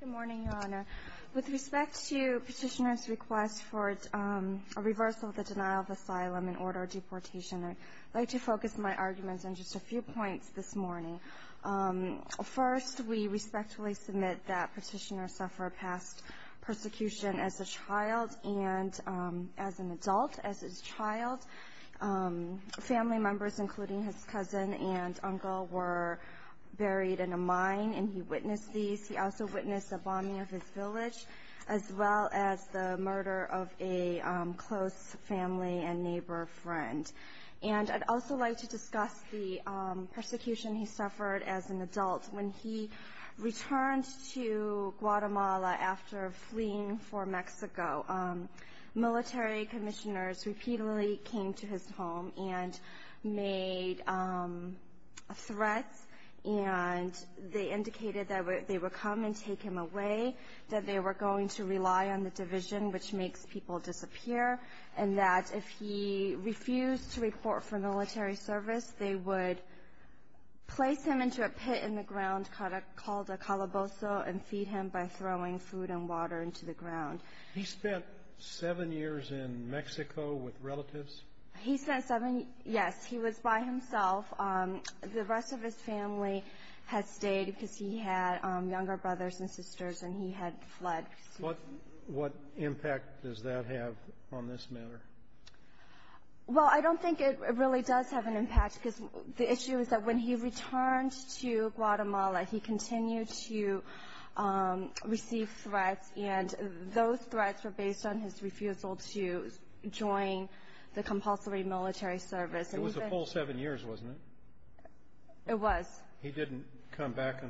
Good morning, Your Honor. With respect to Petitioner's request for a reversal of the denial of asylum and order of deportation, I'd like to focus my arguments on just a few points this morning. First, we respectfully submit that Petitioner suffered past persecution as a child and as an adult. As a child, family members, including his cousin and uncle, were buried in a mine, and he witnessed these. He also witnessed the bombing of his village, as well as the murder of a close family and neighbor friend. And I'd also like to discuss the persecution he suffered as an adult. When he returned to Guatemala after fleeing for Mexico, military commissioners repeatedly came to his home and indicated that they would come and take him away, that they were going to rely on the division, which makes people disappear, and that if he refused to report for military service, they would place him into a pit in the ground called a calabozo and feed him by throwing food and water into the ground. He spent seven years in Mexico with relatives? He spent seven, yes. He was by himself. The rest of his family had stayed because he had younger brothers and sisters, and he had fled. What impact does that have on this matter? Well, I don't think it really does have an impact because the issue is that when he returned to Guatemala, he continued to receive threats, and those threats were based on his refusal to join the compulsory military service. It was a full seven years, wasn't it? It was. He did come back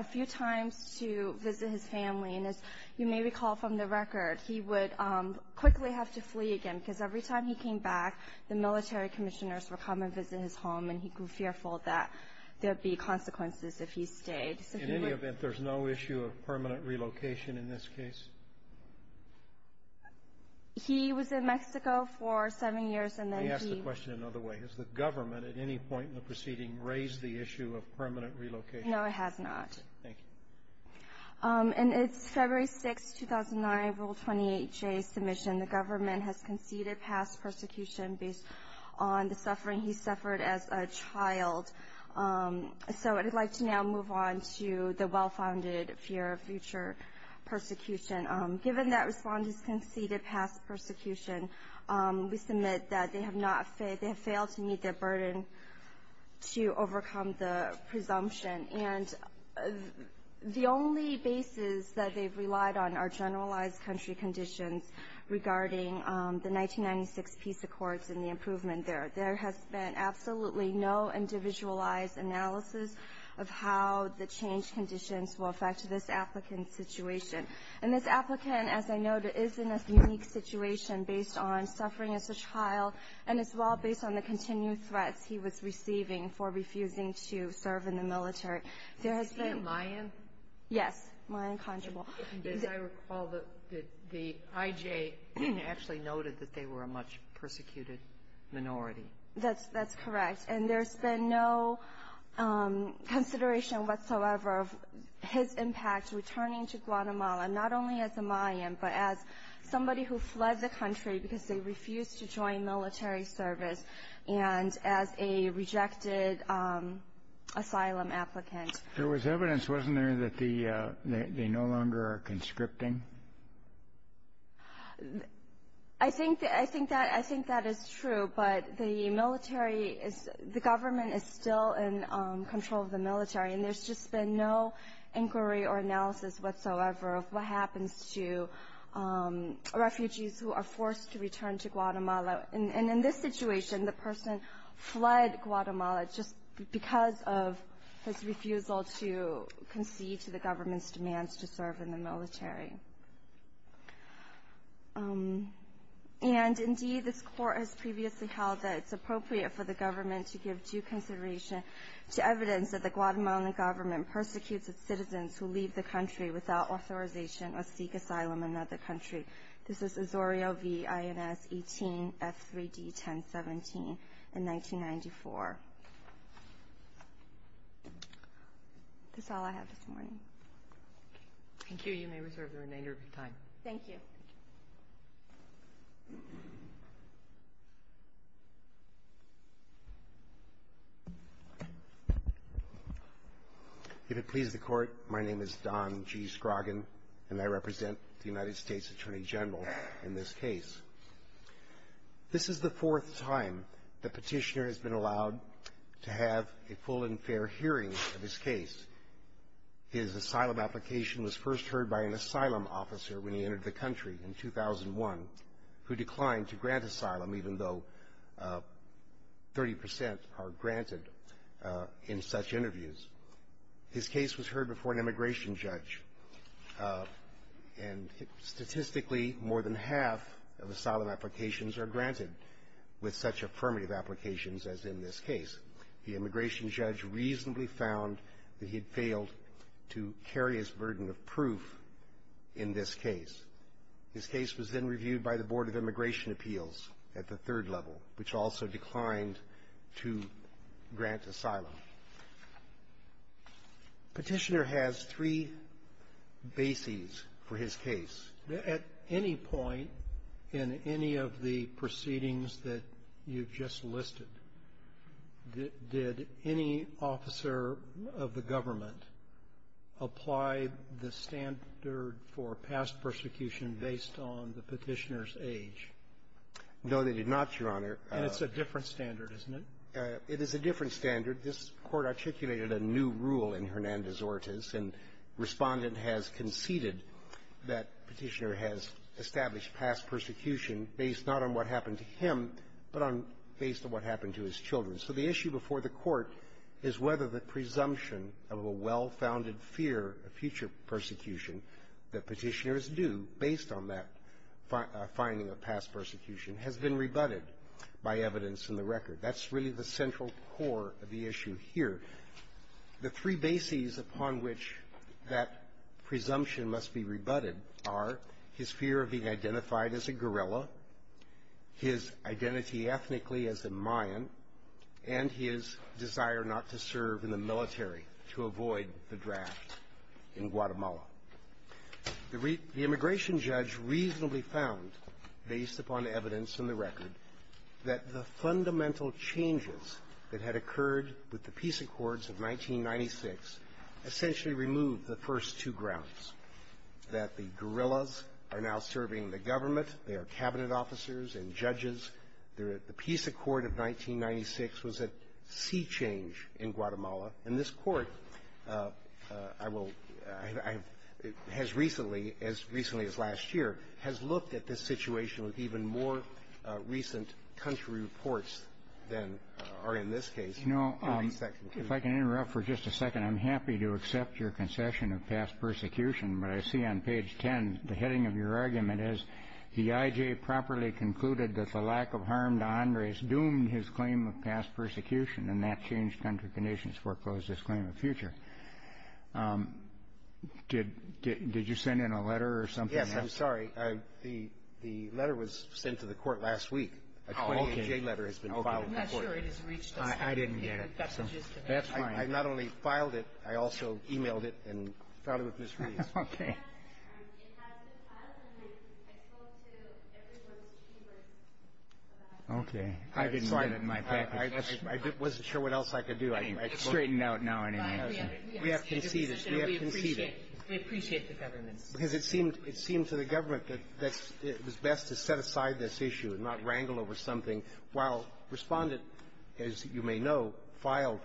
a few times to visit his family, and as you may recall from the record, he would quickly have to flee again because every time he came back, the military commissioners would come and visit his home, and he grew fearful that there would be consequences if he stayed. In any event, there's no issue of permanent relocation in this case? He was in Mexico for seven years, and then he… Let me ask the question another way. Has the government at any point in the proceeding raised the issue of permanent relocation? No, it has not. Thank you. And it's February 6, 2009, Rule 28J submission. The government has conceded past persecution based on the suffering he suffered as a child, so I'd like to now move on to the well-founded fear of future persecution. Given that Respondents conceded past persecution, we submit that they have failed to meet their burden to overcome the presumption, and the only basis that they've relied on are generalized country conditions regarding the 1996 peace accords and the improvement there. There has been absolutely no individualized analysis of how the change conditions will affect this applicant's situation. And this applicant, as I noted, is in a unique situation based on suffering as a child and as well based on the continued threats he was receiving for refusing to serve in the military. There has been… Is he a Mayan? Yes, Mayan conjugal. As I recall, the IJ actually noted that they were a much persecuted minority. That's correct. And there's been no consideration whatsoever of his impact returning to Guatemala, not only as a Mayan, but as somebody who fled the country because they refused to join military service and as a rejected asylum applicant. There was evidence, wasn't there, that they no longer are conscripting? I think that is true, but the government is still in control of the military. And there's just been no inquiry or analysis whatsoever of what happens to refugees who are forced to return to Guatemala. And in this situation, the person fled Guatemala just because of his refusal to concede to the government's demands to serve in the military. And indeed, this court has previously held that it's appropriate for the government to give due consideration to evidence that the Guatemalan government persecutes its citizens who leave the country without authorization or seek asylum in another country. This is Azorio v. Ins18 F3D 1017 in 1994. That's all I have this morning. Thank you. You may reserve the remainder of your time. Thank you. If it pleases the Court, my name is Don G. Scroggin, and I represent the United States Attorney General in this case. This is the fourth time the Petitioner has been allowed to have a full and fair hearing of his case. His asylum application was first heard by an asylum officer when he entered the country in 2001, who declined to grant asylum even though 30 percent are granted in such interviews. His case was heard before an immigration judge, and statistically, more than half of asylum applications are granted with such affirmative applications as in this case. The immigration judge reasonably found that he had failed to carry his burden of proof in this case. His case was then reviewed by the Board of Immigration Appeals at the third level, which also declined to grant asylum. Petitioner has three bases for his case. At any point in any of the proceedings that you've just listed, did any officer of the government apply the standard for past persecution based on the Petitioner's age? No, they did not, Your Honor. And it's a different standard, isn't it? It is a different standard. This Court articulated a new rule in Hernandez-Ortiz, and Respondent has conceded that Petitioner has established past persecution based not on what happened to him, but on based on what happened to his children. So the issue before the Court is whether the presumption of a well-founded fear of future persecution that Petitioner is due based on that finding of past persecution has been rebutted by evidence in the record. That's really the central core of the issue here. The three bases upon which that presumption must be rebutted are his fear of being identified as a guerrilla, his identity ethnically as a Mayan, and his desire not to serve in the military to avoid the draft in Guatemala. The immigration judge reasonably found, based upon evidence in the record, that the fundamental changes that had occurred with the Peace Accords of 1996 essentially removed the first two grounds, that the guerrillas are now serving the government. They are Cabinet officers and judges. The Peace Accord of 1996 was a sea change in Guatemala. And this Court, I will – has recently, as recently as last year, has looked at this situation with even more recent country reports than are in this case. If I can interrupt for just a second, I'm happy to accept your concession of past persecution. But I see on page 10, the heading of your argument is, the IJ properly concluded that the lack of harm to Andres doomed his claim of past persecution, and that changed country conditions foreclosed his claim of future. Did you send in a letter or something? Yes, I'm sorry. The letter was sent to the Court last week. Okay. A 28-J letter has been filed to the Court. I'm not sure it has reached us. I didn't get it. That's fine. I not only filed it, I also e-mailed it and filed it with Ms. Reed. Okay. It has been filed. And I told everyone's chief of staff. Okay. I didn't get it in my package. I wasn't sure what else I could do. It's straightened out now anyway. We have conceded. We have conceded. We appreciate the government. Because it seemed to the government that it was best to set aside this issue and not wrangle over something, while Respondent, as you may know, filed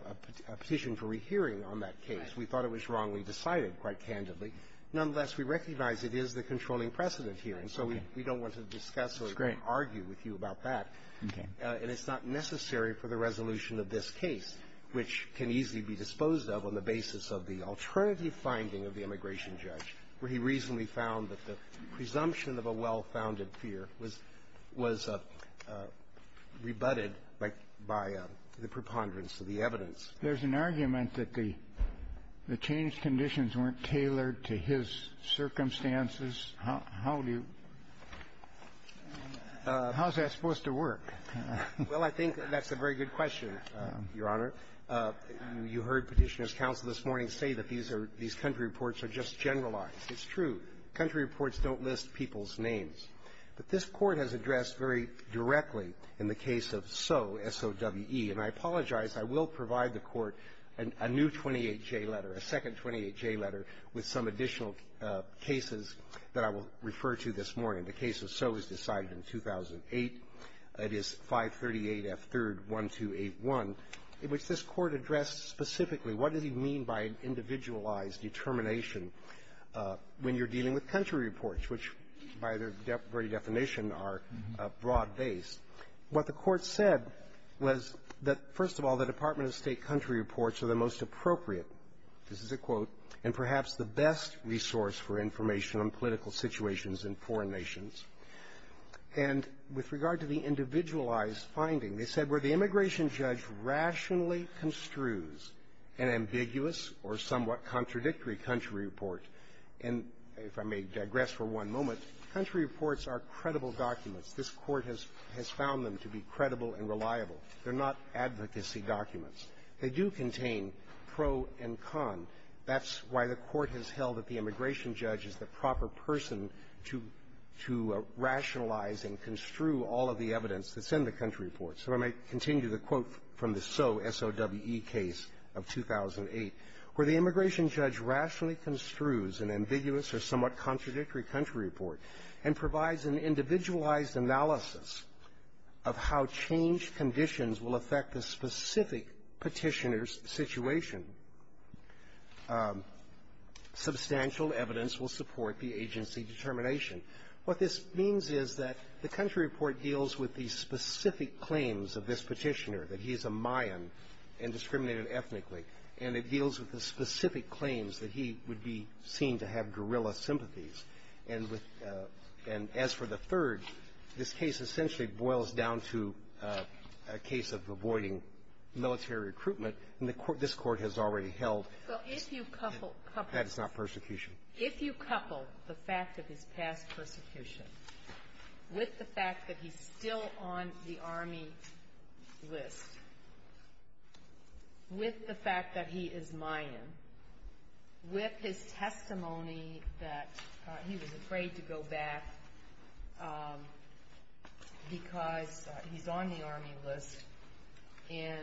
a petition for rehearing on that case. We thought it was wrongly decided, quite candidly. Nonetheless, we recognize it is the controlling precedent here. And so we don't want to discuss or argue with you about that. Okay. And it's not necessary for the resolution of this case, which can easily be disposed of on the basis of the alternative finding of the immigration judge, where he reasonably found that the presumption of a well-founded fear was rebutted by the preponderance of the evidence. There's an argument that the change conditions weren't tailored to his circumstances. How do you – how is that supposed to work? Well, I think that's a very good question, Your Honor. You heard Petitioner's counsel this morning say that these are – these country reports are just generalized. It's true. Country reports don't list people's names. But this Court has addressed very directly in the case of Soe, S-O-W-E. And I apologize. I will provide the Court a new 28J letter, a second 28J letter, with some additional cases that I will refer to this morning. The case of Soe was decided in 2008. It is 538F3-1281, which this Court addressed specifically. What does he mean by individualized determination when you're dealing with country reports, which, by their very definition, are broad-based? What the Court said was that, first of all, the Department of State country reports are the most appropriate – this is a quote – and perhaps the best resource for information on political situations in foreign nations. And with regard to the individualized finding, they said, where the immigration judge rationally construes an ambiguous or somewhat contradictory country report, and if I may digress for one moment, country reports are credible documents. This Court has found them to be credible and reliable. They're not advocacy documents. They do contain pro and con. That's why the Court has held that the immigration judge is the proper person to rationalize and construe all of the evidence that's in the country report. So I may continue the quote from the Soe S.O.W.E. case of 2008, where the immigration judge rationally construes an ambiguous or somewhat contradictory country report and provides an individualized analysis of how change conditions will affect the specific petitioner's situation. Substantial evidence will support the agency determination. What this means is that the country report deals with the specific claims of this petitioner, that he's a Mayan and discriminated ethnically, and it deals with the specific claims that he would be seen to have guerrilla sympathies. And as for the third, this case essentially boils down to a case of avoiding military recruitment, and the Court – this Court has already held that it's not persecution. If you couple the fact of his past persecution with the fact that he's still on the Army list, with the fact that he is Mayan, with his testimony that he was afraid to go back because he's on the Army list, and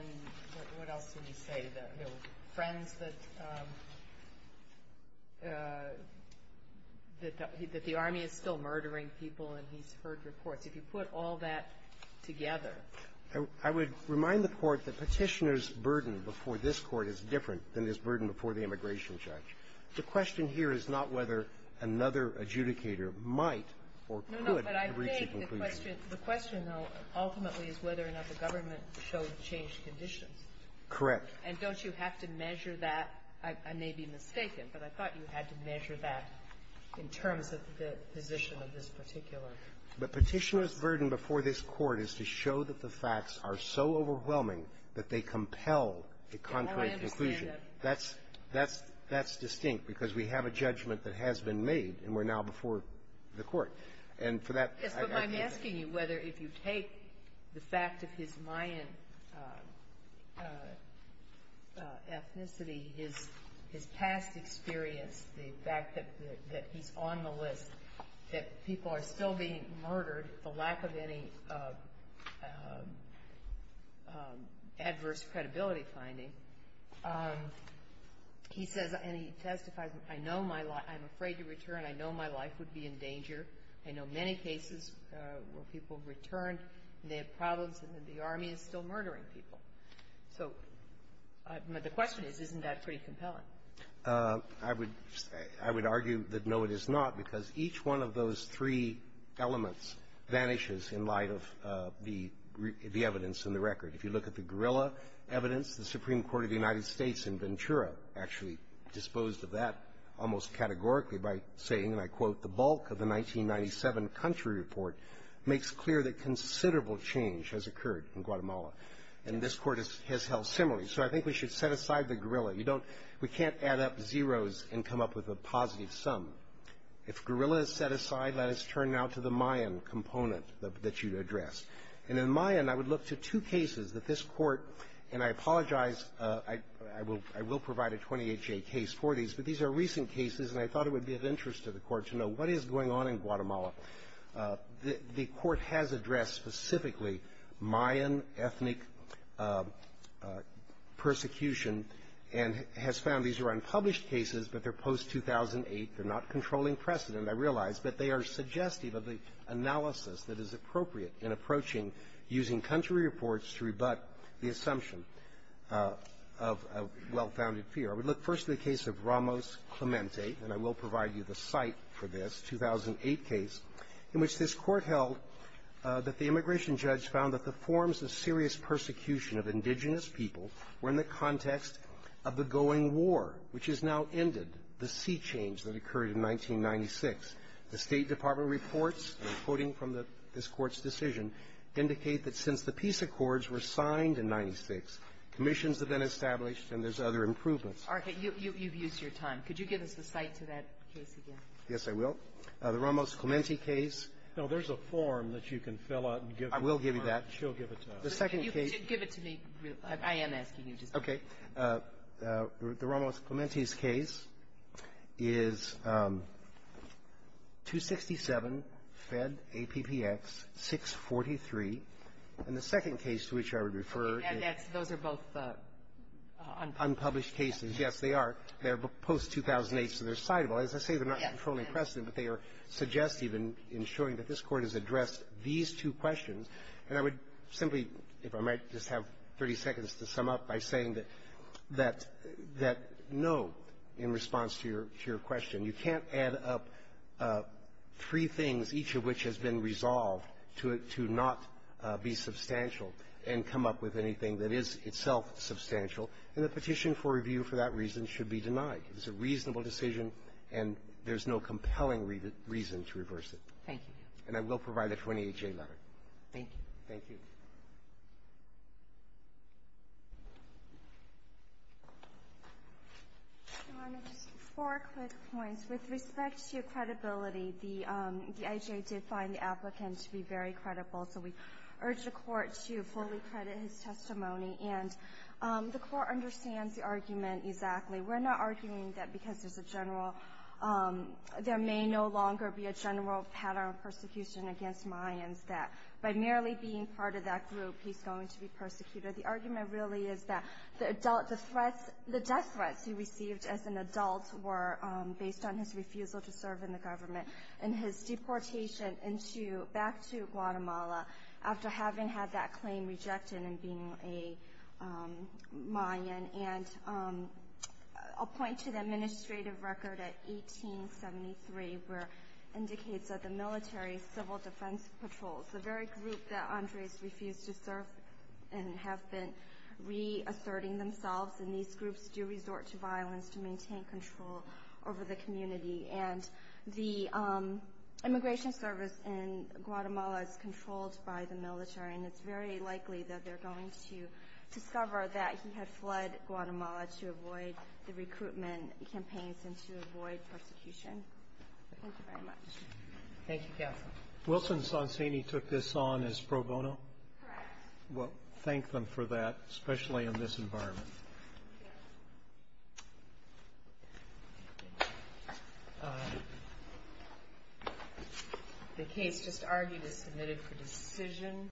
what else did he say, that friends that – that the Army is still murdering people and he's heard reports. If you put all that together – I would remind the Court that Petitioner's burden before this Court is different than his burden before the immigration judge. The question here is not whether another adjudicator might or could reach a conclusion. No, no. But I think the question – the question, though, ultimately, is whether or not the government showed changed conditions. Correct. And don't you have to measure that? I may be mistaken, but I thought you had to measure that in terms of the position of this particular – But Petitioner's burden before this Court is to show that the facts are so overwhelming that they compel a contrary conclusion. Now I understand that. That's – that's – that's distinct because we have a judgment that has been made and we're now before the Court. And for that – Yes, but I'm asking you whether, if you take the fact of his Mayan ethnicity, his – his past experience, the fact that – that he's on the list, that people are still being murdered, the lack of any adverse credibility finding, he says – and he testifies – I know my – I'm afraid to return. I know my life would be in danger. I know many cases where people return and they have problems and the army is still murdering people. So the question is, isn't that pretty compelling? I would – I would argue that no, it is not, because each one of those three elements vanishes in light of the – the evidence in the record. If you look at the guerrilla evidence, the Supreme Court of the United States in Ventura actually disposed of that almost categorically by saying, and I quote, the bulk of the 1997 country report makes clear that considerable change has occurred in Guatemala. And this Court has held similarly. So I think we should set aside the guerrilla. You don't – we can't add up zeros and come up with a positive sum. If guerrilla is set aside, let us turn now to the Mayan component that you addressed. And in Mayan, I would look to two cases that this Court – and I apologize, I will – I will provide a 28-J case for these, but these are recent cases and I thought it would be of interest to the Court to know what is going on in Guatemala. The Court has addressed specifically Mayan ethnic persecution and has found these are unpublished cases, but they're post-2008. They're not controlling precedent, I realize, but they are suggestive of the analysis that is appropriate in approaching using country reports to rebut the assumption of a well-founded fear. I would look first to the case of Ramos Clemente, and I will in which this Court held that the immigration judge found that the forms of serious persecution of indigenous people were in the context of the going war, which has now ended, the sea change that occurred in 1996. The State Department reports, and I'm quoting from this Court's decision, indicate that since the peace accords were signed in 1996, commissions have been established and there's other improvements. Sotomayor, you've used your time. Could you give us the site to that case again? Yes, I will. The Ramos Clemente case. Now, there's a form that you can fill out and give to the Court. I will give you that. She'll give it to us. The second case — Give it to me. I am asking you. Okay. The Ramos Clemente's case is 267 Fed APPX 643, and the second case to which I would refer — Those are both unpublished. Unpublished cases, yes, they are. They're post-2008, so they're citable. As I say, they're not controlling precedent, but they are suggestive in showing that this Court has addressed these two questions. And I would simply, if I might, just have 30 seconds to sum up by saying that no in response to your question, you can't add up three things, each of which has been resolved to not be substantial and come up with anything that is itself substantial, and the petition for review for that reason should be denied. It's a reasonable decision, and there's no compelling reason to reverse it. Thank you. And I will provide a 28-J letter. Thank you. Thank you. Just four quick points. With respect to credibility, the IHA did find the applicant to be very credible, so we urge the Court to fully credit his testimony. And the Court understands the argument exactly. We're not arguing that because there's a general — there may no longer be a general pattern of persecution against Mayans, that by merely being part of that group, he's going to be persecuted. The argument really is that the death threats he received as an adult were based on his refusal to serve in the government and his deportation back to Guatemala after having had that claim rejected and being a Mayan. And I'll point to the administrative record at 1873, where it indicates that the military, civil defense patrols, the very group that Andres refused to serve and have been reasserting themselves, and these groups do resort to violence to maintain control over the community. And the immigration service in Guatemala is controlled by the military, and it's very likely that they're going to discover that he had fled Guatemala to avoid the recruitment campaigns and to avoid persecution. Thank you very much. Thank you, Counsel. Wilson Sonsini took this on as pro bono? Correct. Well, thank them for that, especially in this environment. The case just argued is submitted for decision.